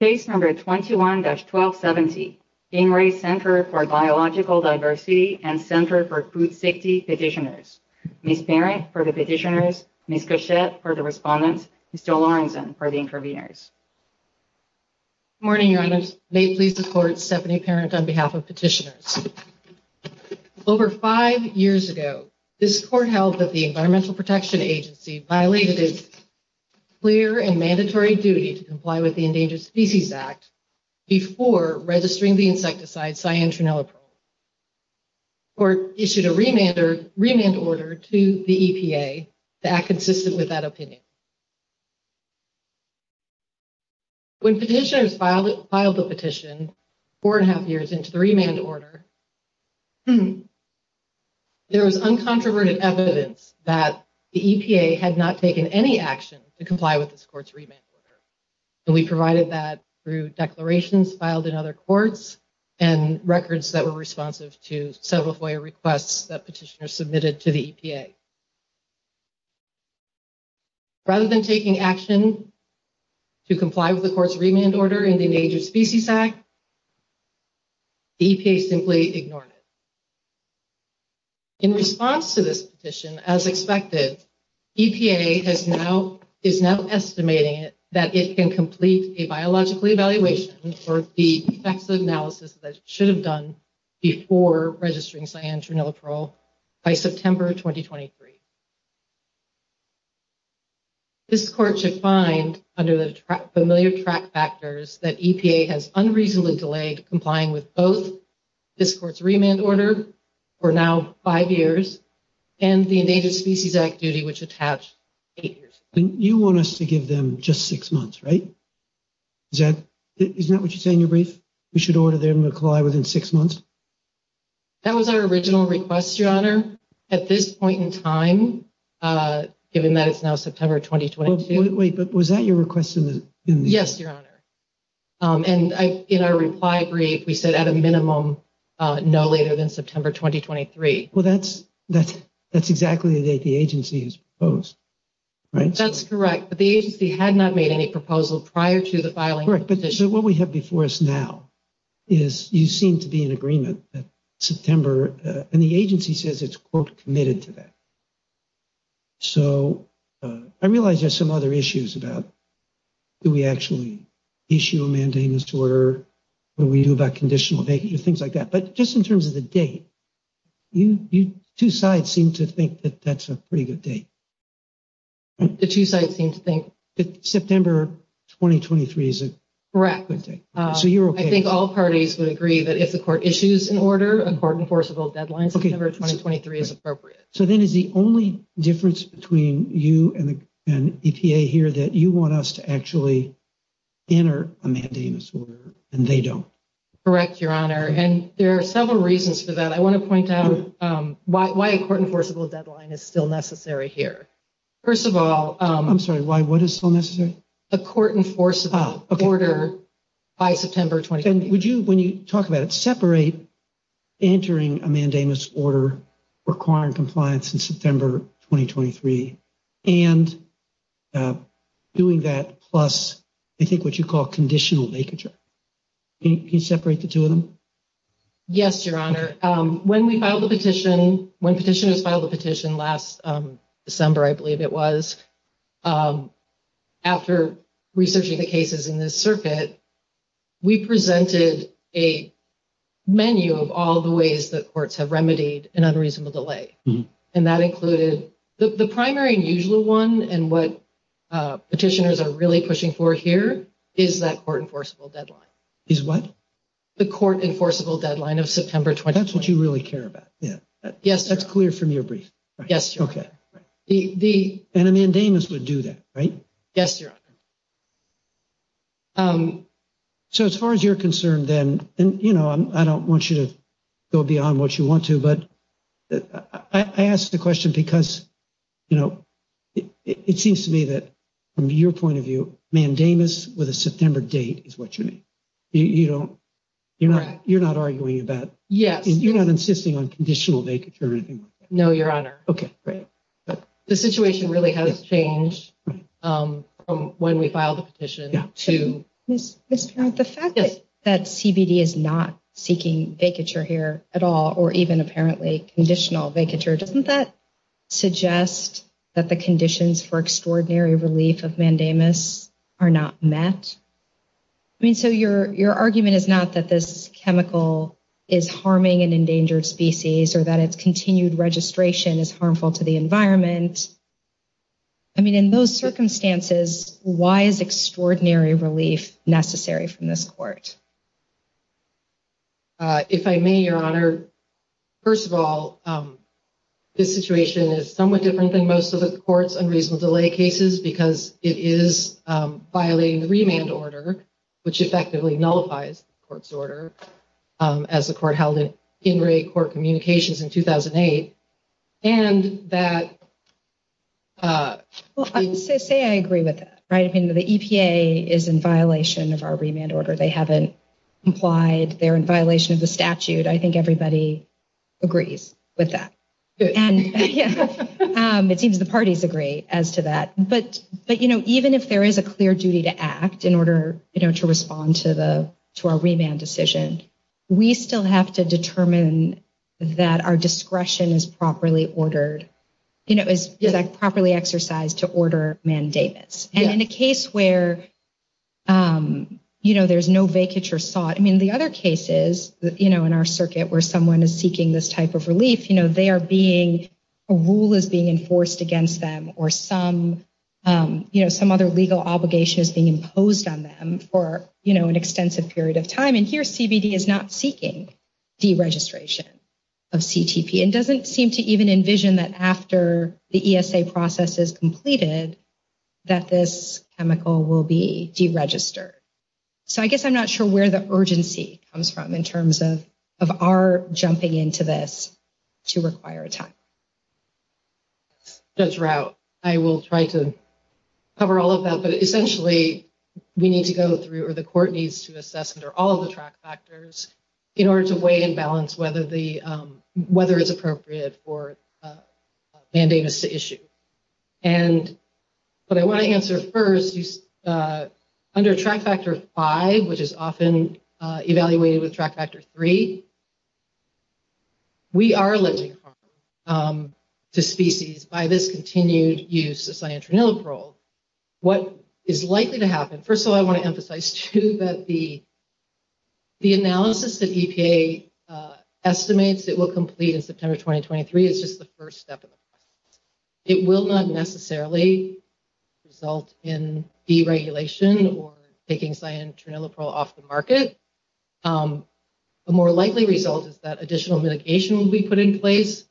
Case No. 21-1270, Ingres Center for Biological Diversity and Center for Food Safety Petitioners, Ms. Parent for the Petitioners, Ms. Cachette for the Respondents, Mr. Lorenzen for the Interveners. Good morning, Your Honors. May it please the Court, Stephanie Parent on behalf of Petitioners. Over five years ago, this Court held that the Environmental Protection Agency violated its clear and mandatory duty to comply with the Endangered Species Act before registering the insecticide cyanotroniloprol. The Court issued a remand order to the EPA to act consistent with that opinion. When petitioners filed the petition four and a half years into the remand order, there was uncontroverted evidence that the EPA had not taken any action to comply with this Court's remand order. And we provided that through declarations filed in other courts and records that were responsive to several FOIA requests that petitioners submitted to the EPA. Rather than taking action to comply with the Court's remand order in the Endangered Species Act, the EPA simply ignored it. In response to this petition, as expected, EPA is now estimating that it can complete a biological evaluation for the effects of the analysis that it should have done before registering cyanotroniloprol by September 2023. This Court should find, under the familiar track factors, that EPA has unreasonably delayed complying with both this Court's remand order, for now five years, and the Endangered Species Act duty, which attached eight years ago. You want us to give them just six months, right? Isn't that what you say in your brief? We should order them to comply within six months? That was our original request, Your Honor, at this point in time, given that it's now September 2022. Wait, but was that your request in the... Yes, Your Honor. And in our reply brief, we said at a minimum, no later than September 2023. Well, that's exactly the date the agency has proposed, right? That's correct, but the agency had not made any proposal prior to the filing of the petition. So what we have before us now is you seem to be in agreement that September, and the agency says it's, quote, committed to that. So I realize there's some other issues about do we actually issue a mandating disorder, what do we do about conditional vacancy, things like that. But just in terms of the date, you two sides seem to think that that's a pretty good date. The two sides seem to think... September 2023 is a good date. Correct. So you're okay. I think all parties would agree that if the court issues an order, a court enforceable deadline, September 2023 is appropriate. So then is the only difference between you and EPA here that you want us to actually enter a mandating disorder and they don't? Correct, Your Honor. And there are several reasons for that. I want to point out why a court enforceable deadline is still necessary here. First of all... I'm sorry, why, what is still necessary? A court enforceable order by September 2023. And would you, when you talk about it, separate entering a mandamus order requiring compliance in September 2023 and doing that plus, I think, what you call conditional vacature. Can you separate the two of them? Yes, Your Honor. When we filed the petition, when petitioners filed the petition last December, I believe it was, after researching the cases in this circuit, we presented a menu of all the ways that courts have remedied an unreasonable delay. And that included the primary and usual one. And what petitioners are really pushing for here is that court enforceable deadline. Is what? The court enforceable deadline of September 2023. That's what you really care about. Yes, Your Honor. That's clear from your brief. Yes, Your Honor. And a mandamus would do that, right? Yes, Your Honor. So as far as you're concerned, then, you know, I don't want you to go beyond what you want to, but I ask the question because, you know, it seems to me that from your point of view, mandamus with a September date is what you need. You know, you're not you're not arguing about. Yes, you're not insisting on conditional vacature. No, Your Honor. OK, great. The situation really has changed from when we filed the petition to this. The fact that CBD is not seeking vacature here at all or even apparently conditional vacature, doesn't that suggest that the conditions for extraordinary relief of mandamus are not met? I mean, so your your argument is not that this chemical is harming an endangered species or that it's continued registration is harmful to the environment. I mean, in those circumstances, why is extraordinary relief necessary from this court? If I may, Your Honor, first of all, this situation is somewhat different than most of the court's unreasonable delay cases because it is violating the remand order, which effectively nullifies the court's order as the court held it in rate court communications in 2008. And that. Well, I say I agree with that, right. I mean, the EPA is in violation of our remand order. They haven't implied they're in violation of the statute. I think everybody agrees with that. And it seems the parties agree as to that. But but, you know, even if there is a clear duty to act in order to respond to the to our remand decision, we still have to determine that our discretion is properly ordered, you know, is properly exercised to order mandates. And in a case where, you know, there's no vacature sought. I mean, the other cases, you know, in our circuit where someone is seeking this type of relief, you know, they are being a rule is being enforced against them or some, you know, some other legal obligation is being imposed on them for, you know, an extensive period of time. And here CBD is not seeking deregistration of CTP and doesn't seem to even envision that after the ESA process is completed, that this chemical will be deregistered. So I guess I'm not sure where the urgency comes from in terms of of our jumping into this to require a time. That's right. I will try to cover all of that. But essentially, we need to go through or the court needs to assess under all the track factors in order to weigh and balance whether the weather is appropriate for mandating this issue. And what I want to answer first, under track factor five, which is often evaluated with track factor three, we are limiting harm to species by this continued use of cyanotroniloprol. What is likely to happen, first of all, I want to emphasize, too, that the the analysis that EPA estimates it will complete in September 2023 is just the first step of the process. It will not necessarily result in deregulation or taking cyanotroniloprol off the market. A more likely result is that additional mitigation will be put in place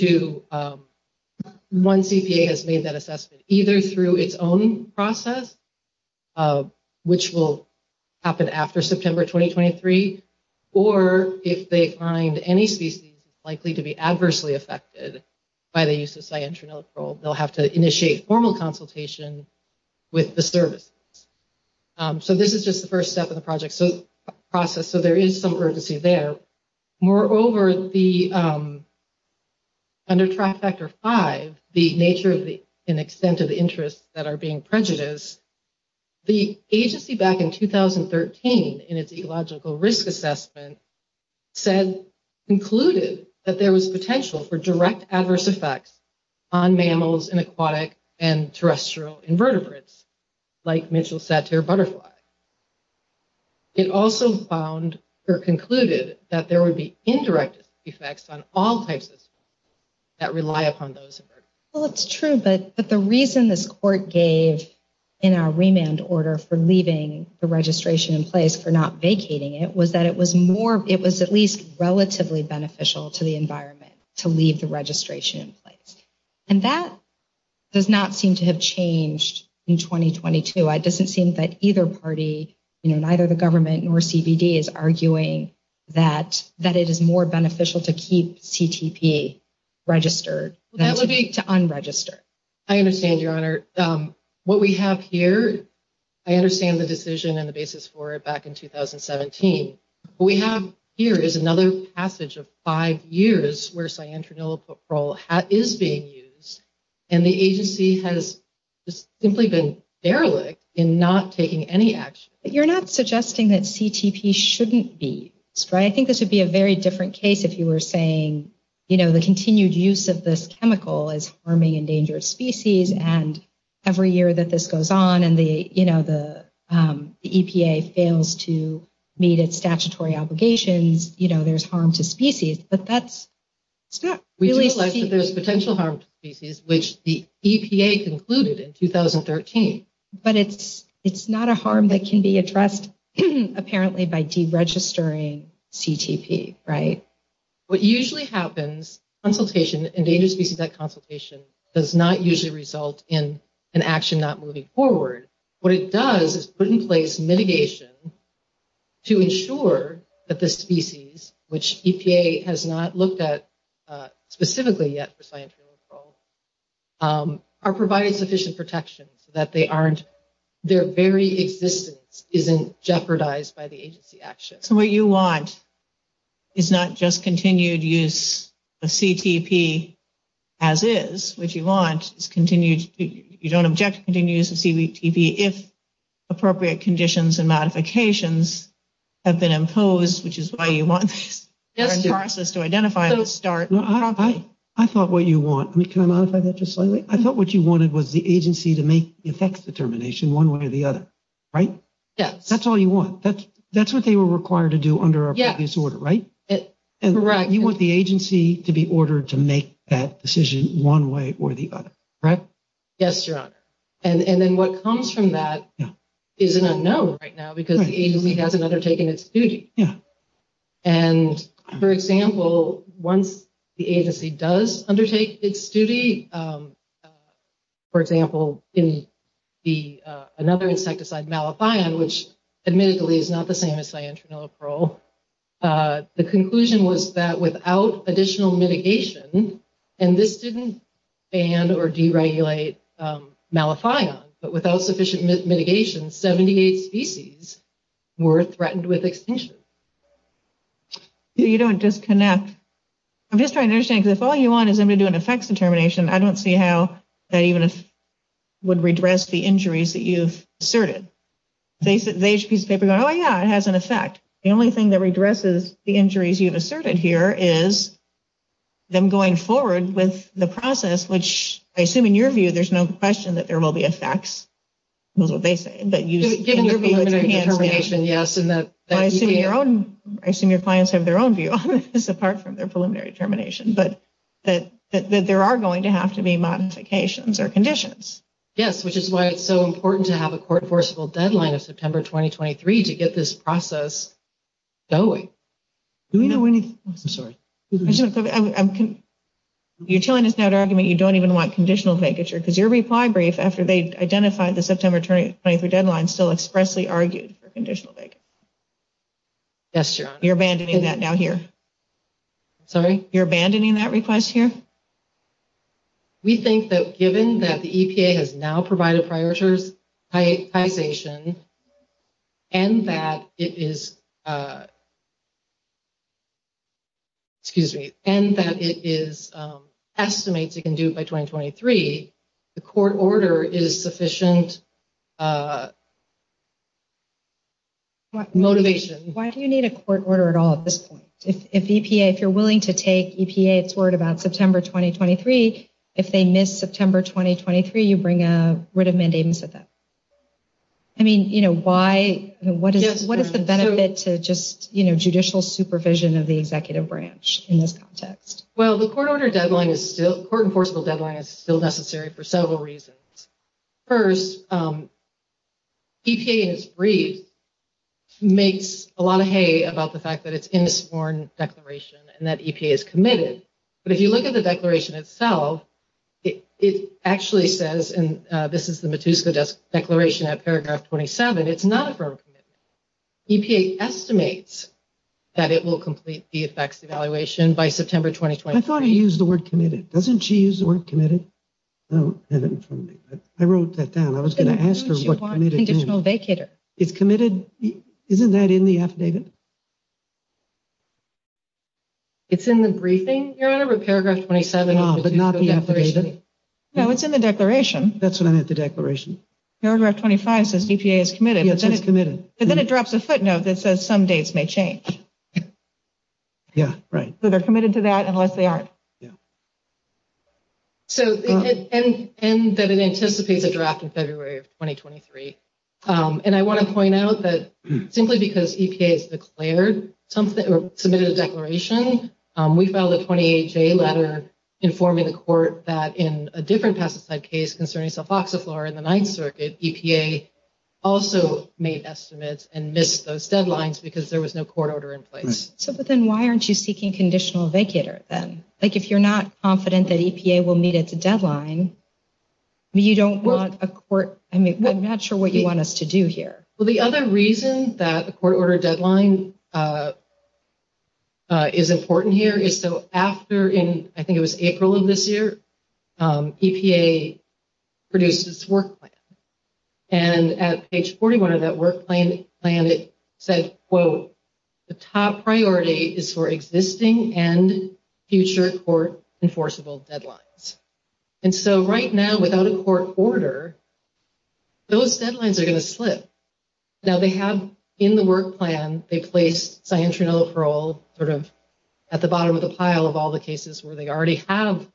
once EPA has made that assessment, either through its own process, which will happen after September 2023, or if they find any species likely to be adversely affected by the use of cyanotroniloprol, they'll have to initiate formal consultation with the services. So this is just the first step of the process, so there is some urgency there. Moreover, under track factor five, the nature and extent of the interests that are being prejudiced, the agency back in 2013 in its ecological risk assessment concluded that there was potential for direct adverse effects on mammals and aquatic and terrestrial invertebrates, like Mitchell's satire butterfly. It also found or concluded that there would be indirect effects on all types of species that rely upon those invertebrates. Well, it's true, but the reason this court gave in our remand order for leaving the registration in place for not vacating it was that it was at least relatively beneficial to the environment to leave the registration in place. And that does not seem to have changed in 2022. It doesn't seem that either party, neither the government nor CBD, is arguing that it is more beneficial to keep CTP registered than to unregister. What we have here, I understand the decision and the basis for it back in 2017. What we have here is another passage of five years where cyanotroniloprol is being used, and the agency has simply been derelict in not taking any action. You're not suggesting that CTP shouldn't be used, right? I think this would be a very different case if you were saying, you know, the continued use of this chemical is harming endangered species, and every year that this goes on and the EPA fails to meet its statutory obligations, you know, there's harm to species. But that's not really… We do realize that there's potential harm to species, which the EPA concluded in 2013. But it's not a harm that can be addressed apparently by deregistering CTP, right? What usually happens, consultation, endangered species consultation, does not usually result in an action not moving forward. What it does is put in place mitigation to ensure that the species, which EPA has not looked at specifically yet for cyanotroniloprol, are provided sufficient protection so that they aren't… their very existence isn't jeopardized by the agency action. So what you want is not just continued use of CTP as is, what you want is continued… you don't object to continued use of CTP if appropriate conditions and modifications have been imposed, which is why you want this process to identify the start. I thought what you want… can I modify that just slightly? I thought what you wanted was the agency to make the effects determination one way or the other, right? Yes. That's all you want. That's what they were required to do under our previous order, right? Correct. You want the agency to be ordered to make that decision one way or the other, right? Yes, Your Honor. And then what comes from that is an unknown right now because the agency hasn't undertaken its duty. Yeah. And, for example, once the agency does undertake its duty, for example, in another insecticide, malathion, which admittedly is not the same as cyanotroniloprol, the conclusion was that without additional mitigation, and this didn't ban or deregulate malathion, but without sufficient mitigation, 78 species were threatened with extinction. You don't disconnect. I'm just trying to understand because if all you want is them to do an effects determination, I don't see how that even would redress the injuries that you've asserted. They each piece of paper going, oh, yeah, it has an effect. The only thing that redresses the injuries you've asserted here is them going forward with the process, which I assume in your view there's no question that there will be effects. That's what they say. In your preliminary determination, yes. I assume your clients have their own view on this apart from their preliminary determination, but that there are going to have to be modifications or conditions. Yes, which is why it's so important to have a court-enforceable deadline of September 2023 to get this process going. I'm sorry. You're telling us now to argue that you don't even want conditional vacature because your reply brief after they identified the September 2023 deadline still expressly argued for conditional vacature. Yes, Your Honor. You're abandoning that now here. Sorry? You're abandoning that request here? We think that given that the EPA has now provided prioritization and that it is estimates it can do by 2023, the court order is sufficient motivation. Why do you need a court order at all at this point? If EPA, if you're willing to take EPA's word about September 2023, if they miss September 2023, you bring a writ of mandamus with them. I mean, you know, why, what is the benefit to just, you know, judicial supervision of the executive branch in this context? Well, the court order deadline is still, court-enforceable deadline is still necessary for several reasons. First, EPA in its brief makes a lot of hay about the fact that it's in this sworn declaration and that EPA is committed. But if you look at the declaration itself, it actually says, and this is the Matuska declaration at paragraph 27, it's not a firm commitment. EPA estimates that it will complete the effects evaluation by September 2023. I thought he used the word committed. Doesn't she use the word committed? I wrote that down. I was going to ask her what committed means. Conditional vacator. It's committed. Isn't that in the affidavit? It's in the briefing, Your Honor, paragraph 27. But not the affidavit? No, it's in the declaration. That's what I meant, the declaration. Paragraph 25 says EPA is committed. Yes, it's committed. But then it drops a footnote that says some dates may change. Yeah, right. So they're committed to that unless they aren't. Yeah. And that it anticipates a draft in February of 2023. And I want to point out that simply because EPA has declared something or submitted a declaration, we filed a 28-J letter informing the court that in a different pesticide case concerning sulfoxaflora in the Ninth Circuit, EPA also made estimates and missed those deadlines because there was no court order in place. So then why aren't you seeking conditional vacator then? Like if you're not confident that EPA will meet its deadline, you don't want a court ‑‑ I mean, I'm not sure what you want us to do here. Well, the other reason that the court order deadline is important here is so after, I think it was April of this year, EPA produced its work plan. And at page 41 of that work plan, it said, quote, the top priority is for existing and future court enforceable deadlines. And so right now without a court order, those deadlines are going to slip. Now, they have in the work plan, they placed cyanotronic parole sort of at the bottom of the pile of all the cases where they already have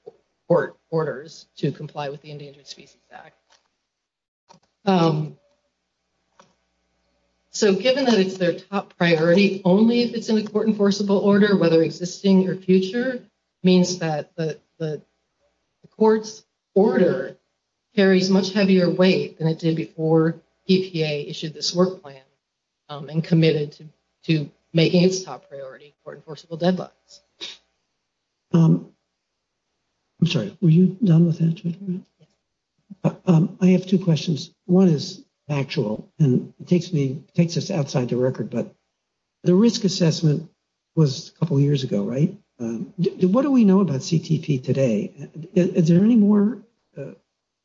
court enforceable deadlines. So given that it's their top priority, only if it's in a court enforceable order, whether existing or future, means that the court's order carries much heavier weight than it did before EPA issued this work plan and committed to making its top priority court enforceable deadlines. I'm sorry, were you done with that? I have two questions. One is factual and takes us outside the record, but the risk assessment was a couple years ago, right? What do we know about CTP today? Is there any more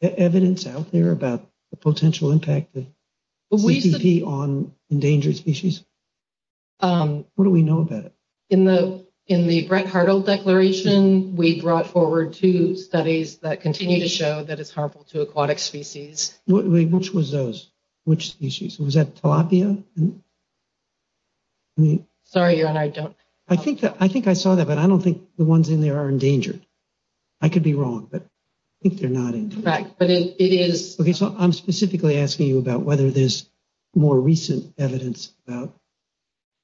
evidence out there about the potential impact of CTP on endangered species? What do we know about it? In the Brett Hartle declaration, we brought forward two studies that continue to show that it's harmful to aquatic species. Which was those? Which species? Was that tilapia? Sorry, your honor, I don't. I think I saw that, but I don't think the ones in there are endangered. I could be wrong, but I think they're not. Correct, but it is. I'm specifically asking you about whether there's more recent evidence about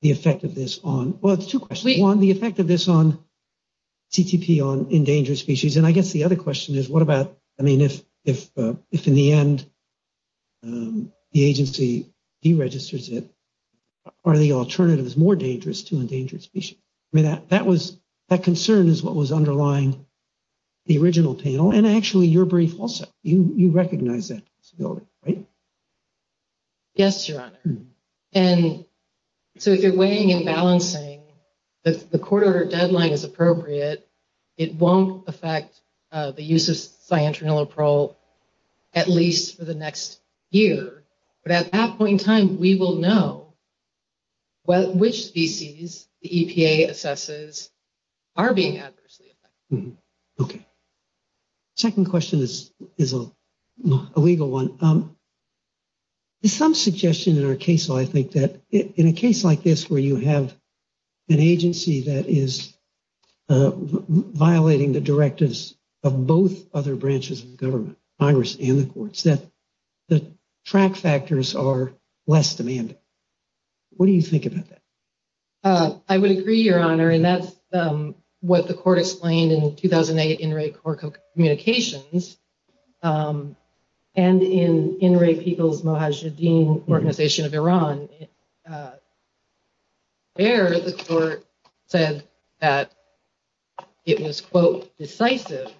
the effect of this on. Well, it's two questions. One, the effect of this on CTP on endangered species. And I guess the other question is, what about, I mean, if in the end the agency deregisters it, are the alternatives more dangerous to endangered species? That concern is what was underlying the original panel. And actually, you're brief also. You recognize that, right? Yes, your honor. And so if you're weighing and balancing, the court order deadline is appropriate. It won't affect the use of cyanotroniloprol at least for the next year. But at that point in time, we will know which species the EPA assesses are being adversely affected. Okay. Second question is a legal one. There's some suggestion in our case, though, I think, that in a case like this where you have an agency that is violating the directives of both other branches of government, Congress and the courts, that the track factors are less demanding. What do you think about that? I would agree, your honor. And that's what the court explained in 2008 Inuit Communications. And in Inuit People's Mohajedin Organization of Iran, there the court said that it was, quote, decisive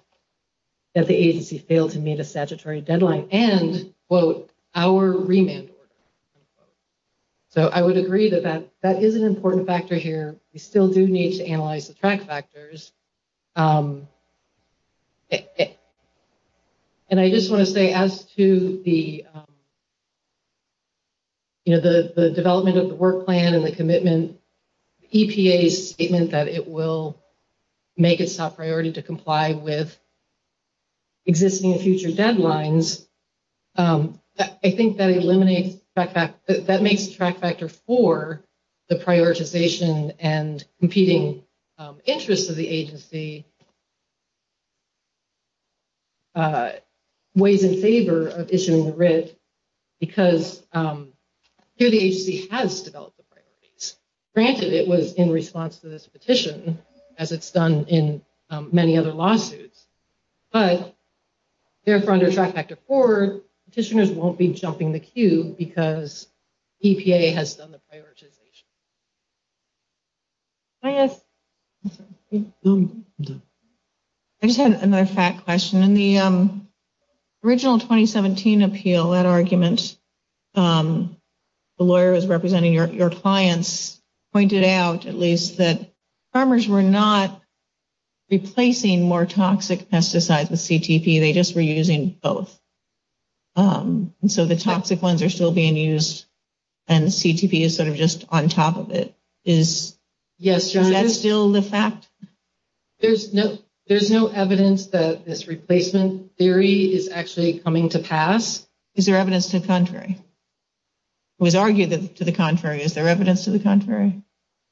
that the agency failed to meet a statutory deadline and, quote, our remand order. So I would agree that that is an important factor here. We still do need to analyze the track factors. And I just want to say as to the development of the work plan and the commitment, EPA's statement that it will make its top priority to comply with existing and future deadlines, I think that eliminates, that makes the track factor for the prioritization and competing interests of the agency ways in favor of issuing the writ, because here the agency has developed the priorities. Granted, it was in response to this petition, as it's done in many other lawsuits. But therefore, under track factor four, petitioners won't be jumping the queue because EPA has done the prioritization. I just had another fact question. In the original 2017 appeal, that argument, the lawyers representing your clients pointed out, at least, that farmers were not replacing more toxic pesticides with CTP. They just were using both. And so the toxic ones are still being used, and the CTP is sort of just on top of it. Is that still the fact? There's no evidence that this replacement theory is actually coming to pass. Is there evidence to the contrary? It was argued to the contrary. Is there evidence to the contrary?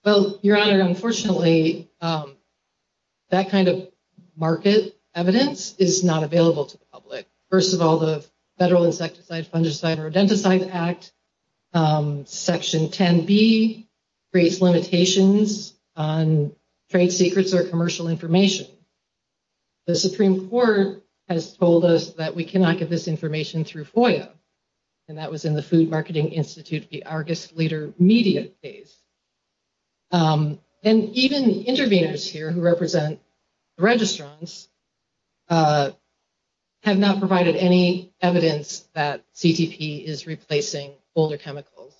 Well, Your Honor, unfortunately, that kind of market evidence is not available to the public. First of all, the Federal Insecticide, Fungicide, or Denticide Act, Section 10B, creates limitations on trade secrets or commercial information. The Supreme Court has told us that we cannot get this information through FOIA, and that was in the Food Marketing Institute, the Argus Leader media phase. And even the interveners here who represent the registrants have not provided any evidence that CTP is replacing older chemicals.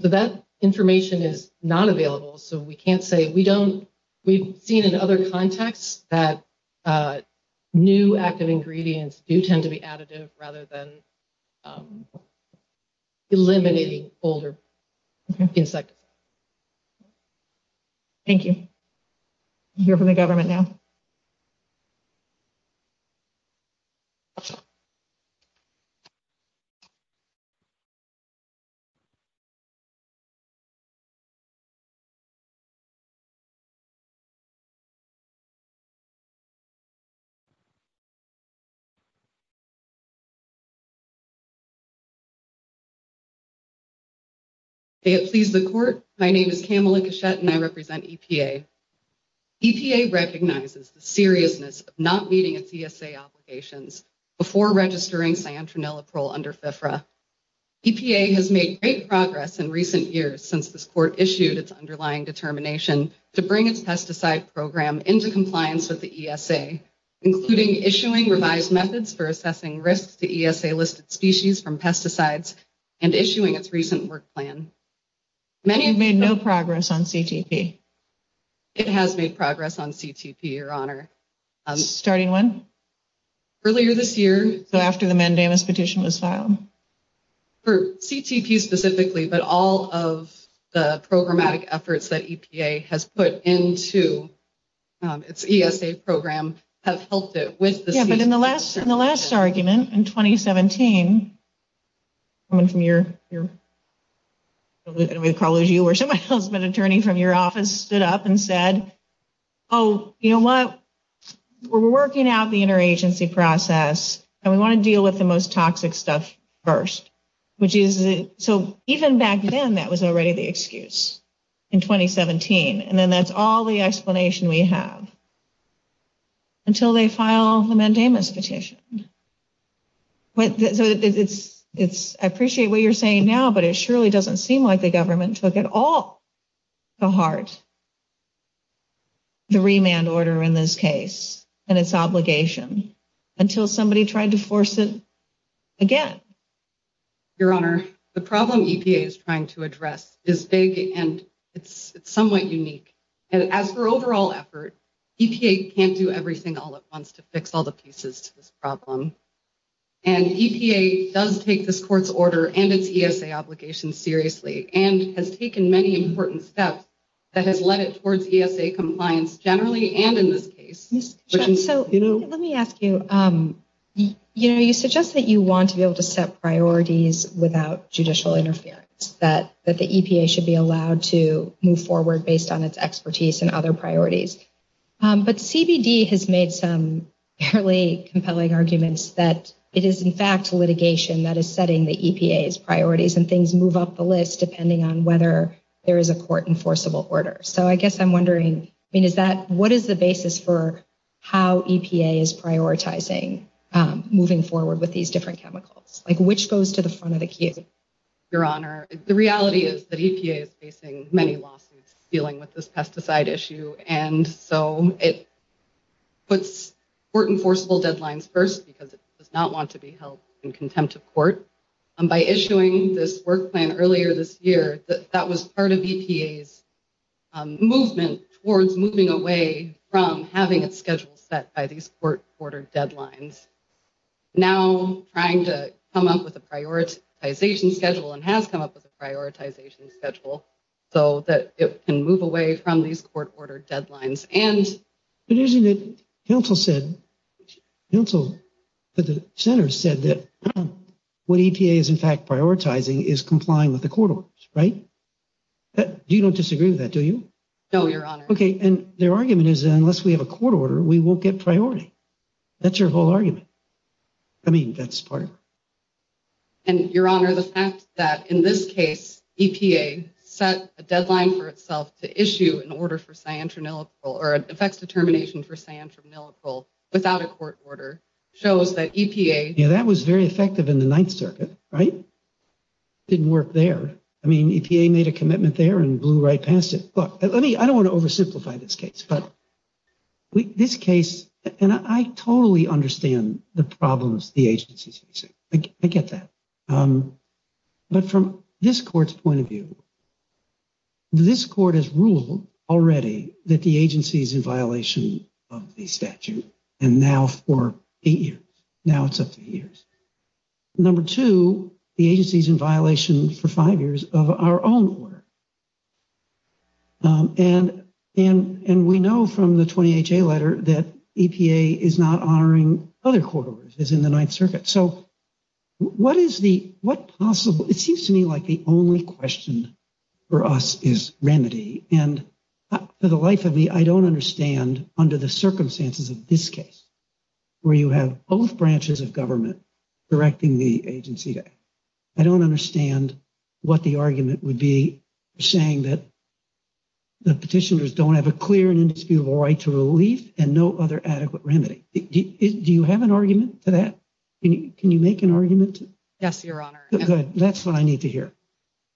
So that information is not available, so we can't say we don't. We've seen in other contexts that new active ingredients do tend to be additive rather than eliminating older insecticides. Thank you. We'll hear from the government now. May it please the Court, my name is Kamala Cashette, and I represent EPA. EPA recognizes the seriousness of not meeting its ESA obligations before registering cyanotroniliprole under FFRA. EPA has made great progress in recent years since this Court issued its underlying determination to bring its own into compliance with the ESA, including issuing revised methods for assessing risks to ESA-listed species from pesticides, and issuing its recent work plan. You've made no progress on CTP. It has made progress on CTP, Your Honor. Starting when? Earlier this year, so after the mandamus petition was filed. For CTP specifically, but all of the programmatic efforts that EPA has put into its ESA program have helped it with the CTP. Yeah, but in the last argument in 2017, someone from your, I'm going to call it you, or somebody else, but an attorney from your office stood up and said, oh, you know what, we're working out the interagency process, and we want to deal with the most toxic stuff first. So even back then, that was already the excuse in 2017, and then that's all the explanation we have, until they file the mandamus petition. So I appreciate what you're saying now, but it surely doesn't seem like the government took it all to heart, the remand order in this case and its obligation, until somebody tried to force it again. Your Honor, the problem EPA is trying to address is big, and it's somewhat unique. As for overall effort, EPA can't do everything all at once to fix all the pieces to this problem, and EPA does take this court's order and its ESA obligation seriously, and has taken many important steps that has led it towards ESA compliance generally and in this case. So let me ask you, you know, you suggest that you want to be able to set priorities without judicial interference, that the EPA should be allowed to move forward based on its expertise and other priorities. But CBD has made some fairly compelling arguments that it is in fact litigation that is setting the EPA's priorities, and things move up the list depending on whether there is a court-enforceable order. So I guess I'm wondering, what is the basis for how EPA is prioritizing moving forward with these different chemicals? Like, which goes to the front of the queue? Your Honor, the reality is that EPA is facing many lawsuits dealing with this pesticide issue, and so it puts court-enforceable deadlines first because it does not want to be held in contempt of court. By issuing this work plan earlier this year, that was part of EPA's movement towards moving away from having its schedule set by these court-ordered deadlines. Now trying to come up with a prioritization schedule, and has come up with a prioritization schedule, so that it can move away from these court-ordered deadlines. But isn't it, Council said, the Center said that what EPA is in fact prioritizing is complying with the court orders, right? You don't disagree with that, do you? No, Your Honor. Okay, and their argument is that unless we have a court order, we won't get priority. That's your whole argument. I mean, that's part of it. And, Your Honor, the fact that in this case, EPA set a deadline for itself to issue an order for cyanotronilacryl, or an effects determination for cyanotronilacryl without a court order, shows that EPA… Yeah, that was very effective in the Ninth Circuit, right? Didn't work there. I mean, EPA made a commitment there and blew right past it. Look, let me, I don't want to oversimplify this case, but this case, and I totally understand the problems the agency's facing. I get that. But from this court's point of view, this court has ruled already that the agency's in violation of the statute, and now for eight years. Now it's up to years. Number two, the agency's in violation for five years of our own order. And we know from the 20HA letter that EPA is not honoring other court orders as in the Ninth Circuit. So what is the, what possible, it seems to me like the only question for us is remedy. And for the life of me, I don't understand under the circumstances of this case, where you have both branches of government directing the agency. I don't understand what the argument would be saying that the petitioners don't have a clear and indisputable right to relief and no other adequate remedy. Do you have an argument to that? Can you make an argument? Yes, Your Honor. Good. That's what I need to hear.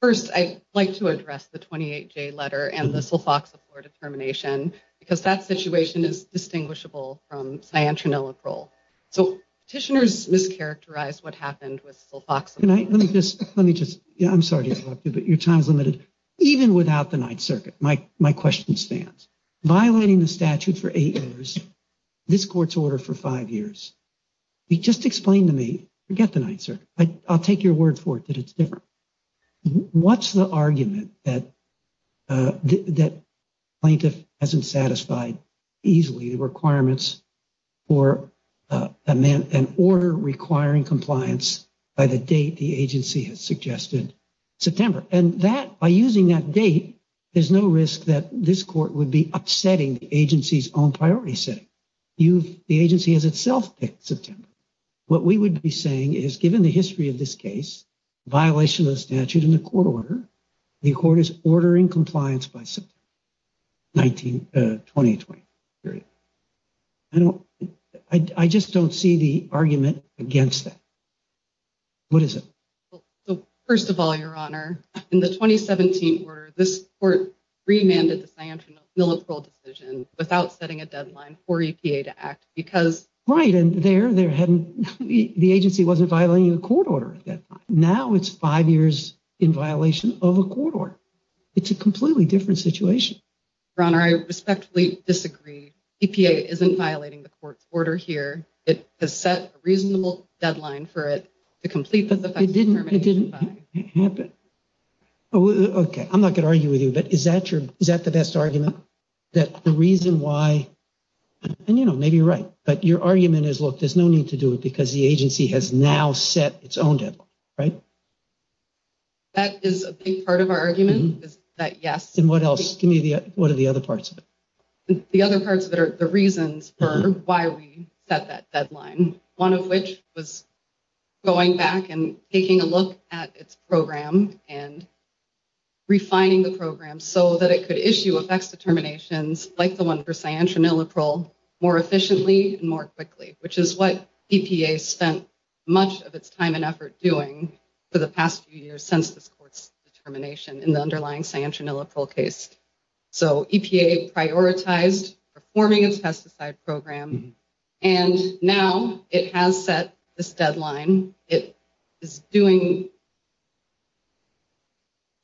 First, I'd like to address the 28J letter and the sulfoxaflora determination, because that situation is distinguishable from cyanotronilacrole. So petitioners mischaracterized what happened with sulfoxaflora. Let me just, let me just, I'm sorry to interrupt you, but your time is limited. Even without the Ninth Circuit, my question stands. Violating the statute for eight years, this court's order for five years. Just explain to me, forget the Ninth Circuit, I'll take your word for it that it's different. What's the argument that plaintiff hasn't satisfied easily the requirements for an order requiring compliance by the date the agency has suggested, September? And that, by using that date, there's no risk that this court would be upsetting the agency's own priority setting. The agency has itself picked September. What we would be saying is given the history of this case, violation of the statute in the court order, the court is ordering compliance by September 2020. I don't, I just don't see the argument against that. What is it? First of all, Your Honor, in the 2017 order, this court remanded the sanction of the decision without setting a deadline for EPA to act because. Right. And there, there hadn't, the agency wasn't violating the court order. Now it's five years in violation of a court order. It's a completely different situation. Your Honor, I respectfully disagree. EPA isn't violating the court's order here. It has set a reasonable deadline for it to complete. But it didn't, it didn't happen. Okay. I'm not going to argue with you, but is that your, is that the best argument? That the reason why, and you know, maybe you're right, but your argument is, look, there's no need to do it because the agency has now set its own deadline, right? That is a big part of our argument is that, yes. And what else? Give me the, what are the other parts of it? The other parts of it are the reasons for why we set that deadline. One of which was going back and taking a look at its program and refining the program so that it could issue effects determinations, like the one for cyanotroniliprole, more efficiently and more quickly, which is what EPA spent much of its time and effort doing for the past few years since this court's determination in the underlying cyanotroniliprole case. So EPA prioritized performing its pesticide program. And now it has set this deadline. It is doing,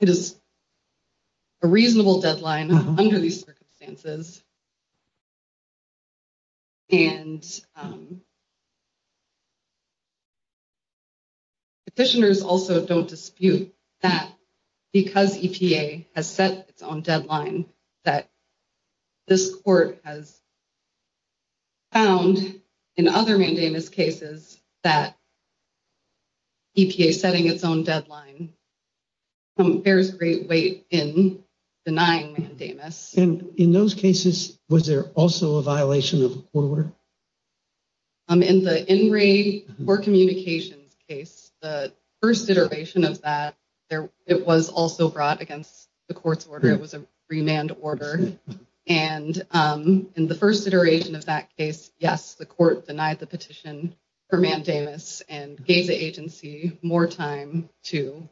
it is a reasonable deadline under these circumstances. And petitioners also don't dispute that because EPA has set its own deadline, that this court has found in other mandamus cases that EPA setting its own deadline bears great weight in denying mandamus. And in those cases, was there also a violation of the court order? In the in-ray court communications case, the first iteration of that, it was also brought against the court's order. It was a remand order. And in the first iteration of that case, yes, the court denied the petition for mandamus and gave the agency more time to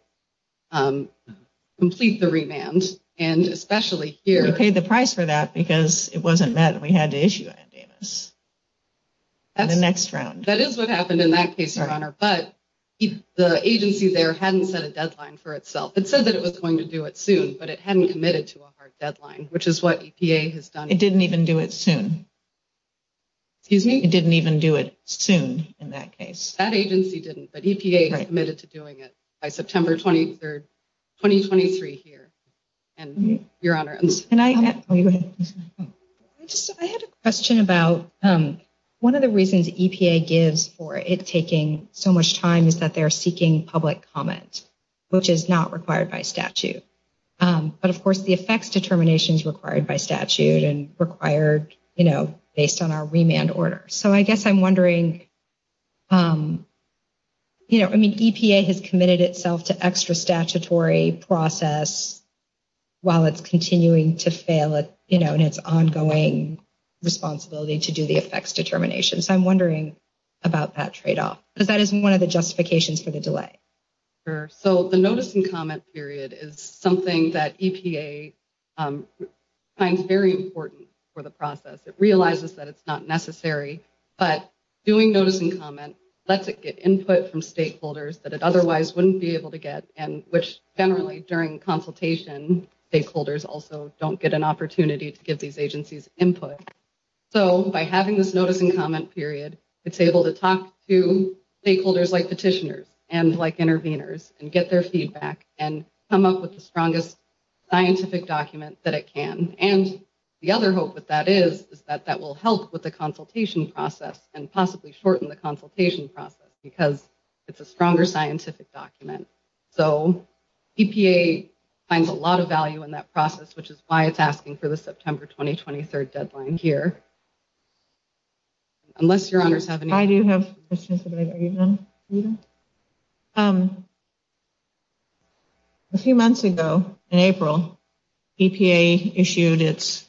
complete the remand. And especially here. We paid the price for that because it wasn't met and we had to issue a mandamus in the next round. That is what happened in that case, Your Honor. But the agency there hadn't set a deadline for itself. It said that it was going to do it soon, but it hadn't committed to a hard deadline, which is what EPA has done. It didn't even do it soon. Excuse me? It didn't even do it soon in that case. That agency didn't, but EPA committed to doing it by September 23rd, 2023 here. And, Your Honor. I had a question about one of the reasons EPA gives for it taking so much time is that they're seeking public comment, which is not required by statute. But, of course, the effects determination is required by statute and required based on our remand order. So I guess I'm wondering, you know, I mean, EPA has committed itself to extra statutory process while it's continuing to fail in its ongoing responsibility to do the effects determination. So I'm wondering about that tradeoff. Because that is one of the justifications for the delay. Sure. So the notice and comment period is something that EPA finds very important for the process. It realizes that it's not necessary. But doing notice and comment lets it get input from stakeholders that it otherwise wouldn't be able to get, which generally during consultation stakeholders also don't get an opportunity to give these agencies input. So by having this notice and comment period, it's able to talk to stakeholders like petitioners and like interveners and get their feedback and come up with the strongest scientific document that it can. And the other hope that that is is that that will help with the consultation process and possibly shorten the consultation process because it's a stronger scientific document. So EPA finds a lot of value in that process, which is why it's asking for the September 2023 deadline here. Unless your honors have any questions. I do have a question. A few months ago in April, EPA issued its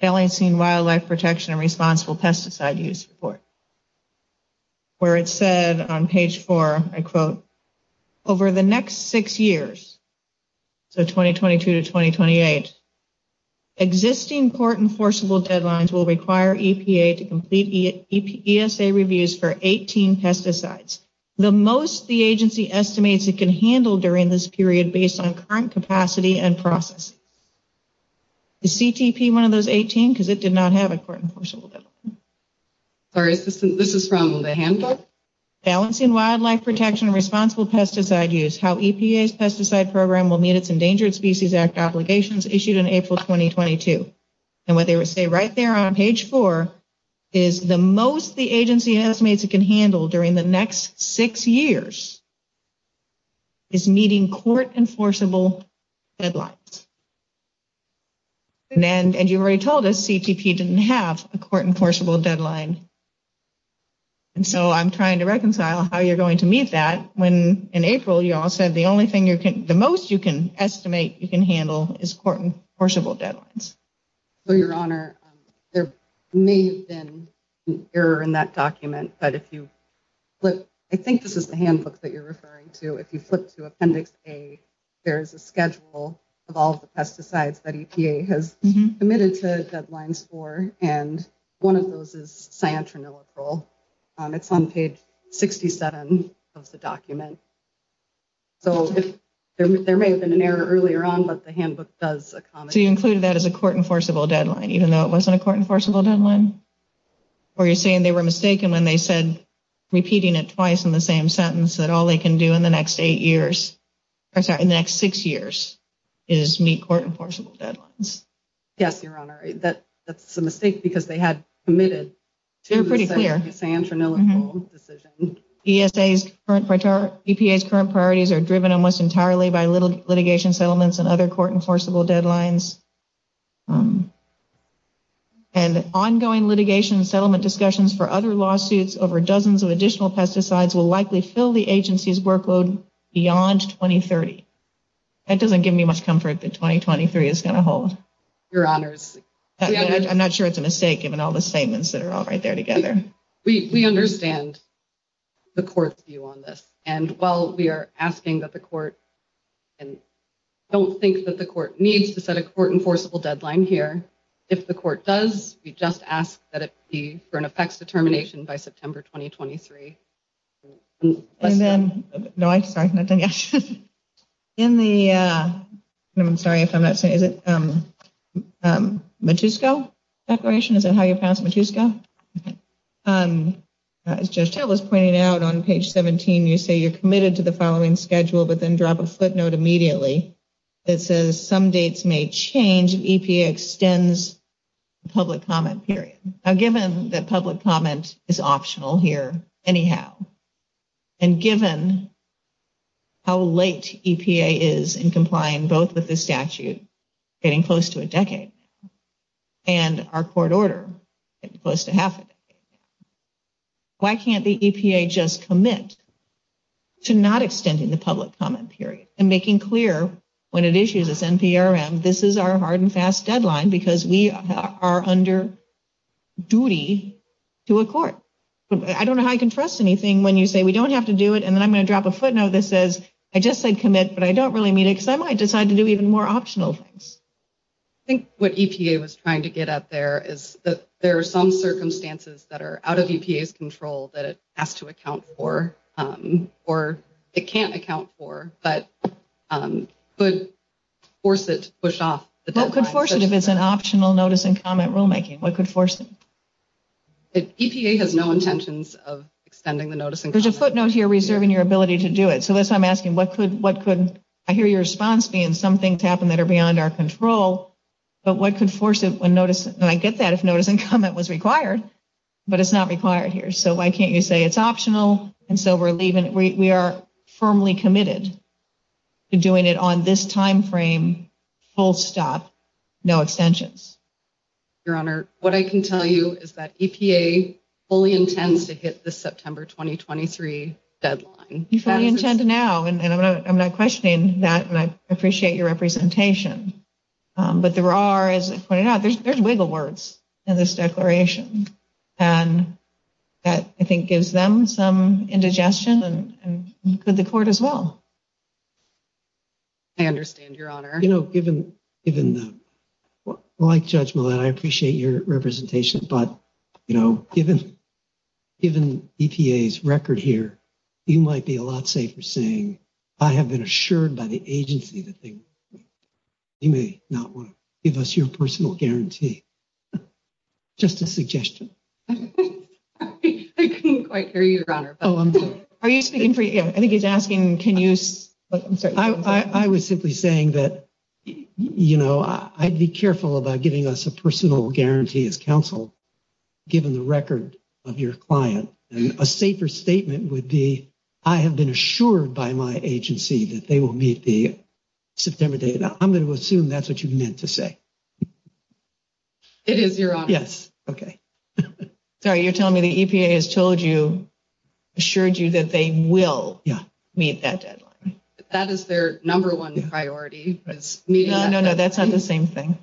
LAC wildlife protection and responsible pesticide use report, where it said on page four, I quote, over the next six years, so 2022 to 2028, existing court enforceable deadlines will require EPA to complete ESA reviews for 18 pesticides. The most the agency estimates it can handle during this period based on current capacity and process. Is CTP one of those 18? Because it did not have a court enforceable deadline. Sorry, this is from the handbook. Balancing wildlife protection and responsible pesticide use. How EPA's pesticide program will meet its Endangered Species Act obligations issued in April 2022. And what they say right there on page four is the most the agency estimates it can handle during the next six years. Is meeting court enforceable deadlines. And you already told us CTP didn't have a court enforceable deadline. And so I'm trying to reconcile how you're going to meet that when, in April, you all said the only thing the most you can estimate you can handle is court enforceable deadlines. Your Honor, there may have been an error in that document. But if you look, I think this is the handbook that you're referring to. If you flip to Appendix A, there is a schedule of all the pesticides that EPA has committed to deadlines for. And one of those is cyanotronilliferol. It's on page 67 of the document. So there may have been an error earlier on, but the handbook does. So you included that as a court enforceable deadline, even though it wasn't a court enforceable deadline? Or you're saying they were mistaken when they said, repeating it twice in the same sentence, that all they can do in the next eight years or in the next six years is meet court enforceable deadlines? Yes, Your Honor. That's a mistake because they had committed to the cyanotronilliferol decision. ESA's current priorities are driven almost entirely by litigation settlements and other court enforceable deadlines. And ongoing litigation settlement discussions for other lawsuits over dozens of additional pesticides will likely fill the agency's workload beyond 2030. That doesn't give me much comfort that 2023 is going to hold. Your Honors. I'm not sure it's a mistake, given all the statements that are all right there together. We understand the court's view on this. And while we are asking that the court and don't think that the court needs to set a court enforceable deadline here, if the court does, we just ask that it be for an effects determination by September 2023. And then no, I'm sorry. In the I'm sorry if I'm not saying is it Matusko declaration? Is that how you pass Matusko? As just I was pointing out on page 17, you say you're committed to the following schedule, but then drop a footnote immediately. It says some dates may change. EPA extends public comment period. Now, given that public comment is optional here anyhow. And given how late EPA is in complying both with the statute, getting close to a decade. And our court order close to half. Why can't the EPA just commit to not extending the public comment period and making clear when it issues this NPRM? This is our hard and fast deadline because we are under duty to a court. I don't know how I can trust anything when you say we don't have to do it. And then I'm going to drop a footnote that says I just said commit, but I don't really mean it. Because I might decide to do even more optional things. I think what EPA was trying to get at there is that there are some circumstances that are out of EPA's control that it has to account for, or it can't account for, but could force it to push off the deadline. What could force it if it's an optional notice and comment rulemaking? What could force it? EPA has no intentions of extending the notice. There's a footnote here reserving your ability to do it. So that's what I'm asking. I hear your response being some things happen that are beyond our control. But what could force it? And I get that if notice and comment was required, but it's not required here. So why can't you say it's optional? And so we are firmly committed to doing it on this timeframe, full stop, no extensions. Your Honor, what I can tell you is that EPA fully intends to hit the September 2023 deadline. You fully intend to now, and I'm not questioning that, and I appreciate your representation. But there are, as I pointed out, there's wiggle words in this declaration. And that, I think, gives them some indigestion, and could the Court as well. I understand, Your Honor. You know, like Judge Millett, I appreciate your representation. But, you know, given EPA's record here, you might be a lot safer saying, I have been assured by the agency that they may not want to give us your personal guarantee. Just a suggestion. I couldn't quite hear you, Your Honor. I think he's asking, can you – I was simply saying that, you know, I'd be careful about giving us a personal guarantee as counsel, given the record of your client. A safer statement would be, I have been assured by my agency that they will meet the September date. I'm going to assume that's what you meant to say. It is, Your Honor. Yes, okay. Sorry, you're telling me the EPA has told you, assured you that they will meet that deadline. That is their number one priority. No, no, no, that's not the same thing.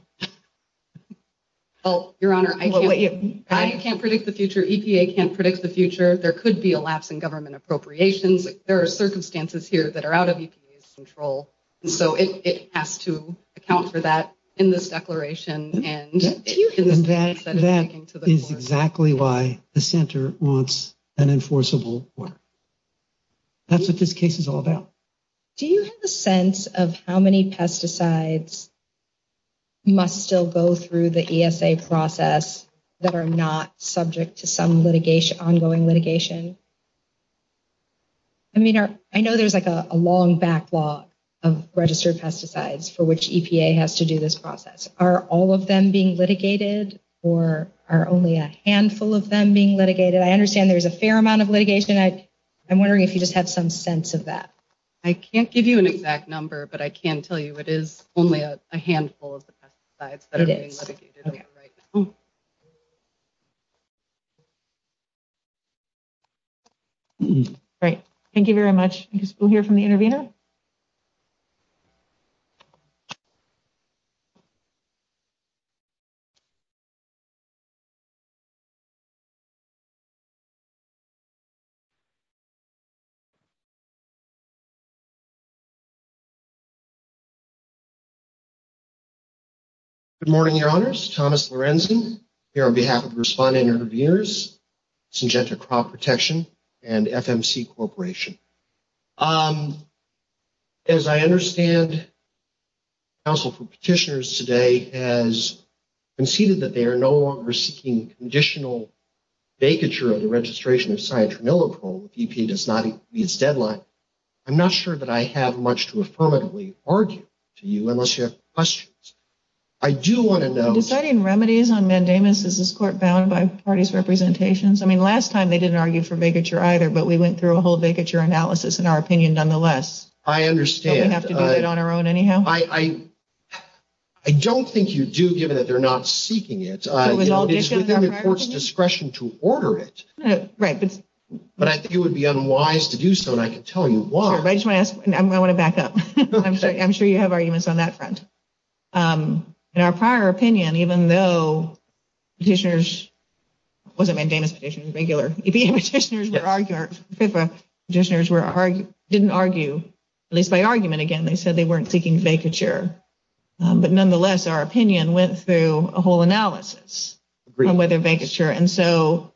Well, Your Honor, I can't predict the future. EPA can't predict the future. There could be a lapse in government appropriations. There are circumstances here that are out of EPA's control. So it has to account for that in this declaration. And that is exactly why the center wants an enforceable order. That's what this case is all about. Do you have a sense of how many pesticides must still go through the ESA process that are not subject to some ongoing litigation? I mean, I know there's like a long backlog of registered pesticides for which EPA has to do this process. Are all of them being litigated or are only a handful of them being litigated? I understand there's a fair amount of litigation. I'm wondering if you just have some sense of that. I can't give you an exact number, but I can tell you it is only a handful of the pesticides that are being litigated right now. Great. Thank you very much. We'll hear from the intervener. Good morning, Your Honors. Thomas Lorenzen here on behalf of Respondent Interveners, Syngenta Crop Protection, and FMC Corporation. As I understand, the Council for Petitioners today has conceded that they are no longer seeking conditional vacature of the registration of Cyanotramilochrome if EPA does not meet its deadline. I'm not sure that I have much to affirmatively argue to you unless you have questions. Deciding remedies on mandamus, is this court bound by parties' representations? I mean, last time they didn't argue for vacature either, but we went through a whole vacature analysis, in our opinion, nonetheless. I understand. Do we have to do it on our own anyhow? I don't think you do, given that they're not seeking it. It's within the court's discretion to order it. Right. But I think it would be unwise to do so, and I can tell you why. I want to back up. I'm sure you have arguments on that front. In our prior opinion, even though petitioners, it wasn't a mandamus petition, it was regular, EPA petitioners didn't argue, at least by argument again, they said they weren't seeking vacature. But nonetheless, our opinion went through a whole analysis on whether vacature, and so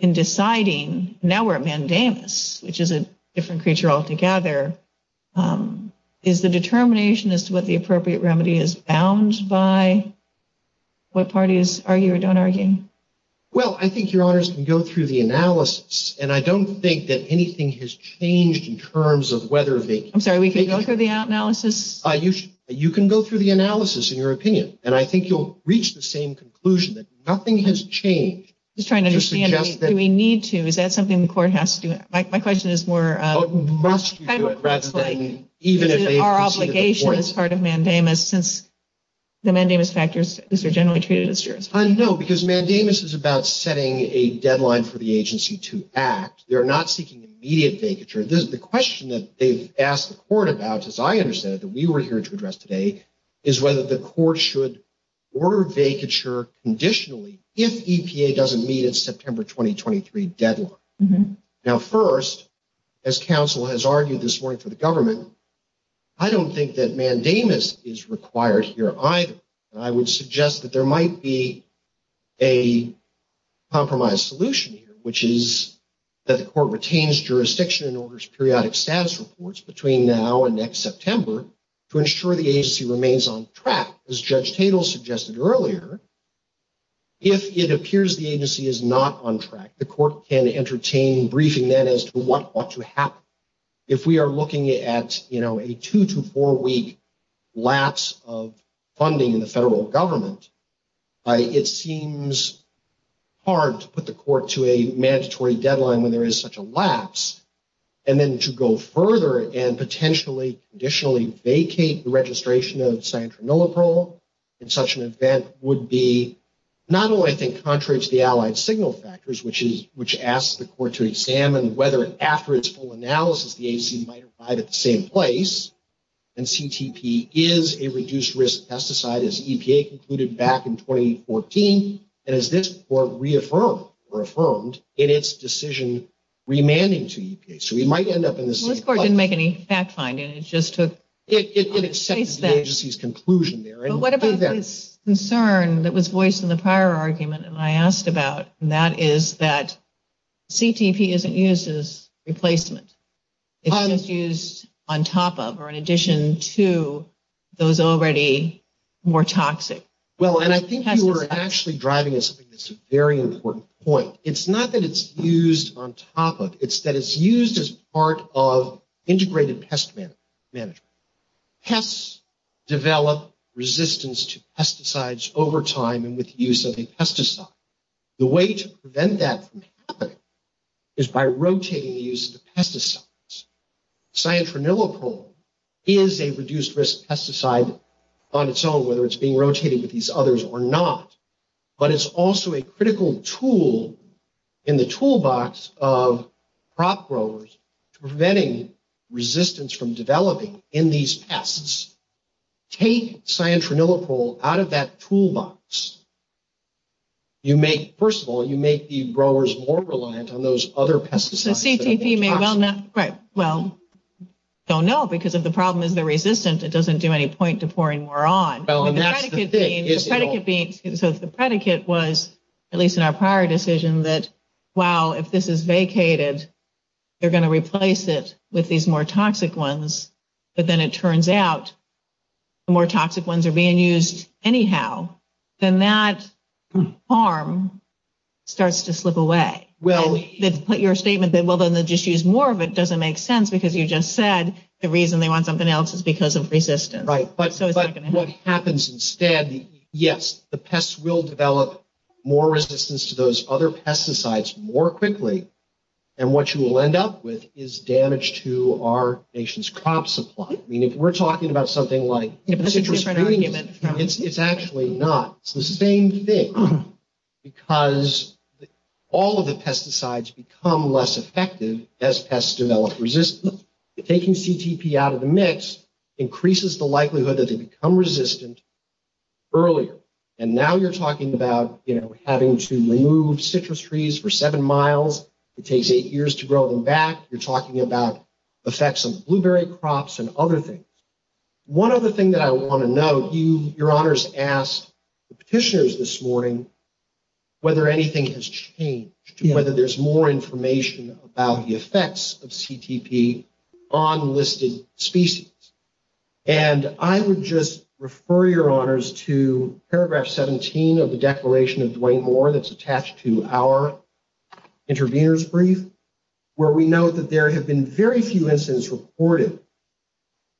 in deciding, now we're at mandamus, which is a different creature altogether, is the determination as to what the appropriate remedy is bound by what parties argue or don't argue? Well, I think, Your Honors, we can go through the analysis, and I don't think that anything has changed in terms of whether vacature. I'm sorry, we can go through the analysis? You can go through the analysis in your opinion, and I think you'll reach the same conclusion that nothing has changed. I'm just trying to understand, do we need to? Is that something the court has to do? My question is more kind of like, is it our obligation as part of mandamus, since the mandamus factors are generally treated as jurisprudence? No, because mandamus is about setting a deadline for the agency to act. They're not seeking immediate vacature. The question that they've asked the court about, as I understand it, that we were here to address today, is whether the court should order vacature conditionally if EPA doesn't meet its September 2023 deadline. Now, first, as counsel has argued this morning for the government, I don't think that mandamus is required here either. I would suggest that there might be a compromise solution here, which is that the court retains jurisdiction and orders periodic status reports between now and next September to ensure the agency remains on track. As Judge Tatel suggested earlier, if it appears the agency is not on track, the court can entertain briefing then as to what ought to happen. If we are looking at, you know, a two- to four-week lapse of funding in the federal government, it seems hard to put the court to a mandatory deadline when there is such a lapse, and then to go further and potentially conditionally vacate the registration of Santra Nuloprol in such an event would be not only, I think, contrary to the allied signal factors, which asks the court to examine whether, after its full analysis, the agency might arrive at the same place, and CTP is a reduced-risk pesticide, as EPA concluded back in 2014, and as this court reaffirmed in its decision remanding to EPA. So we might end up in the same place. This court didn't make any fact-finding. It accepted the agency's conclusion there. But what about this concern that was voiced in the prior argument and I asked about, and that is that CTP isn't used as replacement. It's just used on top of or in addition to those already more toxic. Well, and I think you are actually driving us to this very important point. It's not that it's used on top of. It's that it's used as part of integrated pest management. Pests develop resistance to pesticides over time and with the use of a pesticide. The way to prevent that from happening is by rotating the use of the pesticides. Santra Nuloprol is a reduced-risk pesticide on its own, whether it's being rotated with these others or not, but it's also a critical tool in the toolbox of crop growers preventing resistance from developing in these pests. Take Santra Nuloprol out of that toolbox. You make, first of all, you make the growers more reliant on those other pesticides. So CTP may well not, right, well, don't know because if the problem is the resistance, it doesn't do any point to pouring more on. So the predicate was, at least in our prior decision, that, wow, if this is vacated, they're going to replace it with these more toxic ones. But then it turns out the more toxic ones are being used anyhow. Then that harm starts to slip away. Your statement that, well, then they'll just use more of it doesn't make sense because you just said the reason they want something else is because of resistance. Right, but what happens instead, yes, the pests will develop more resistance to those other pesticides more quickly. And what you will end up with is damage to our nation's crop supply. I mean, if we're talking about something like citrus green, it's actually not. It's the same thing because all of the pesticides become less effective as pests develop resistance. Taking CTP out of the mix increases the likelihood that they become resistant earlier. And now you're talking about, you know, having to remove citrus trees for seven miles. It takes eight years to grow them back. You're talking about effects on blueberry crops and other things. One other thing that I want to note, you, Your Honors, asked the petitioners this morning whether anything has changed, whether there's more information about the effects of CTP on listed species. And I would just refer, Your Honors, to paragraph 17 of the declaration of Duane Moore that's attached to our intervener's brief, where we note that there have been very few instances reported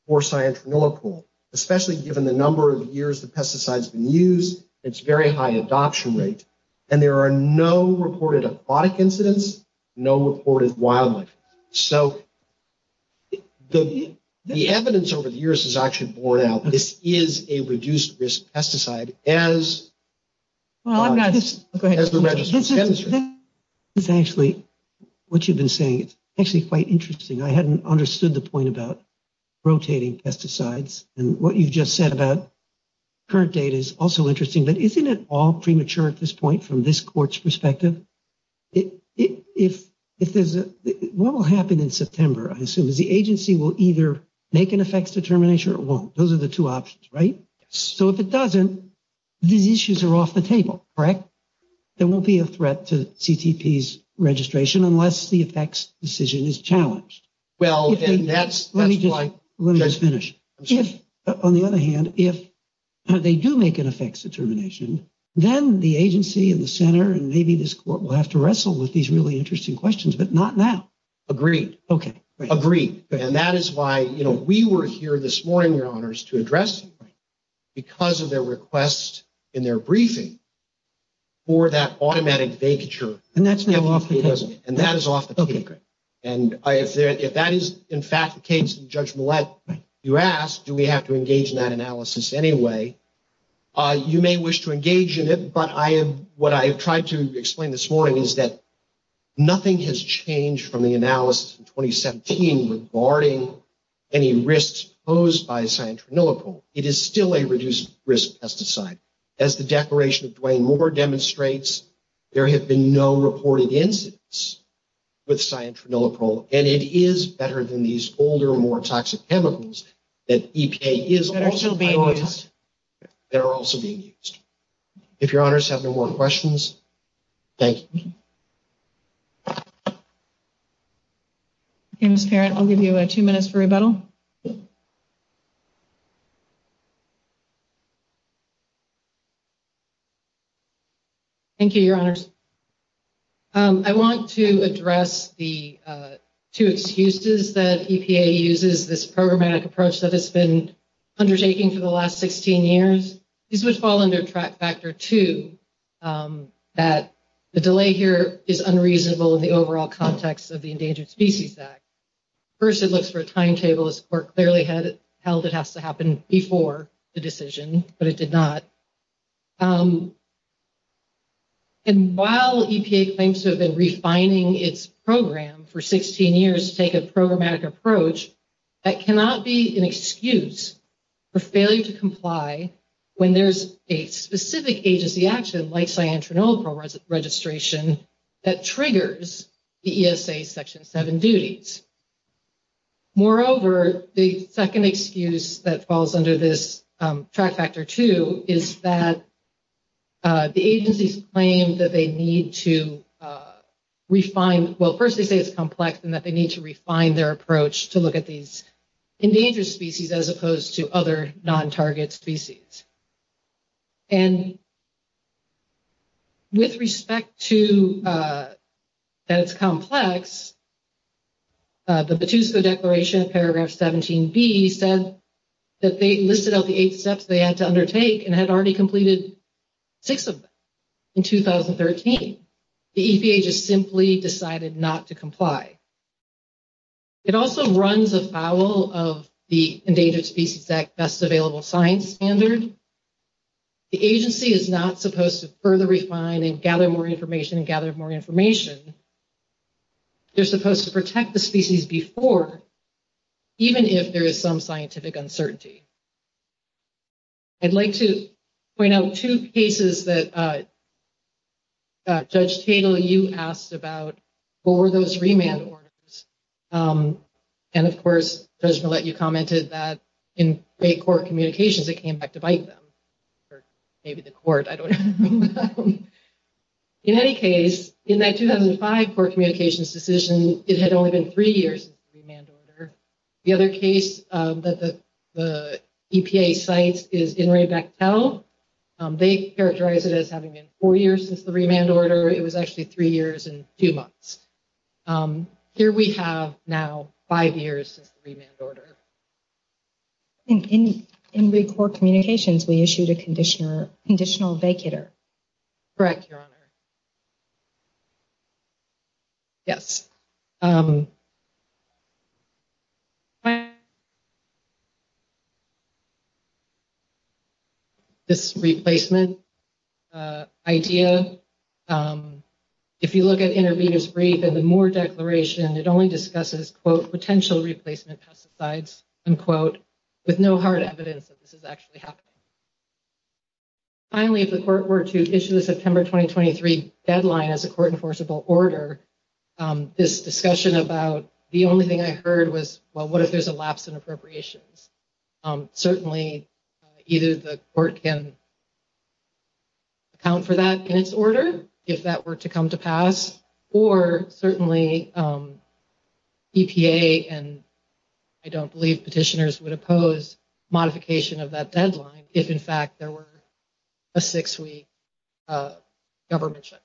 for cyanotronillacool, especially given the number of years the pesticides have been used, its very high adoption rate, and there are no reported aquatic incidents, no reported wildlife. So the evidence over the years has actually borne out. This is a reduced-risk pesticide as the Registrar's Candidate. This is actually what you've been saying. It's actually quite interesting. I hadn't understood the point about rotating pesticides. And what you just said about current data is also interesting. But isn't it all premature at this point from this court's perspective? What will happen in September, I assume, is the agency will either make an effects determination or it won't. Those are the two options, right? So if it doesn't, these issues are off the table, correct? There won't be a threat to CTP's registration unless the effects decision is challenged. Let me just finish. On the other hand, if they do make an effects determination, then the agency and the center and maybe this court will have to wrestle with these really interesting questions, but not now. Agreed. Agreed. And that is why we were here this morning, Your Honors, to address you because of the request in their briefing for that automatic vacature. And that's now off the table. And that is off the table. And if that is, in fact, the case that Judge Millett, you asked, do we have to engage in that analysis anyway? You may wish to engage in it. But what I have tried to explain this morning is that nothing has changed from the analysis in 2017 regarding any risks posed by cyanotronilipole. It is still a reduced risk pesticide. As the declaration of Duane Moore demonstrates, there have been no reported incidents with cyanotronilipole. And it is better than these older, more toxic chemicals that EPA is also using. That are still being used. That are also being used. If Your Honors have no more questions, thank you. Okay, Ms. Parent, I'll give you two minutes for rebuttal. Thank you, Your Honors. I want to address the two excuses that EPA uses this programmatic approach that it's been undertaking for the last 16 years. These would fall under Track Factor 2. That the delay here is unreasonable in the overall context of the Endangered Species Act. First, it looks for a timetable. As the Court clearly held, it has to happen before the decision. But it did not. And while EPA claims to have been refining its program for 16 years to take a programmatic approach, that cannot be an excuse for failure to comply when there's a specific agency action, like cyanotronilipole registration, that triggers the ESA Section 7 duties. Moreover, the second excuse that falls under this Track Factor 2 is that the agencies claim that they need to refine, well, first they say it's complex, and that they need to refine their approach to look at these endangered species as opposed to other non-target species. And with respect to that it's complex, the Petusco Declaration, Paragraph 17B, said that they listed out the eight steps they had to undertake and had already completed six of them in 2013. The EPA just simply decided not to comply. It also runs afoul of the Endangered Species Act Best Available Science Standard. The agency is not supposed to further refine and gather more information and gather more information. They're supposed to protect the species before, even if there is some scientific uncertainty. I'd like to point out two cases that Judge Tatel, you asked about. What were those remand orders? And, of course, Judge Millett, you commented that in a court communications, it came back to bite them. Or maybe the court, I don't know. In any case, in that 2005 court communications decision, it had only been three years since the remand order. The other case that the EPA cites is INRI Bechtel. They characterize it as having been four years since the remand order. It was actually three years and two months. Here we have now five years since the remand order. In the court communications, we issued a conditional vacater. Correct, Your Honor. Yes. This replacement idea, if you look at intervener's brief and the Moore Declaration, it only discusses, quote, potential replacement pesticides, unquote, with no hard evidence that this is actually happening. Finally, if the court were to issue the September 2023 deadline as a court enforceable order, this discussion about the only thing I heard was, well, what if there's a lapse in appropriations? Certainly, either the court can account for that in its order if that were to come to pass, or certainly EPA and I don't believe petitioners would oppose modification of that deadline if, in fact, there were a six-week government check.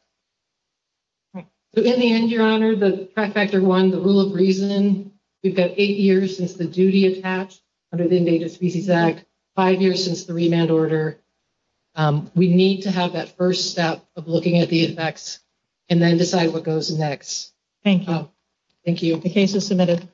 In the end, Your Honor, the track factor one, the rule of reason, we've got eight years since the duty attached under the Endangered Species Act, five years since the remand order. We need to have that first step of looking at the effects and then decide what goes next. Thank you. Thank you. The case is submitted.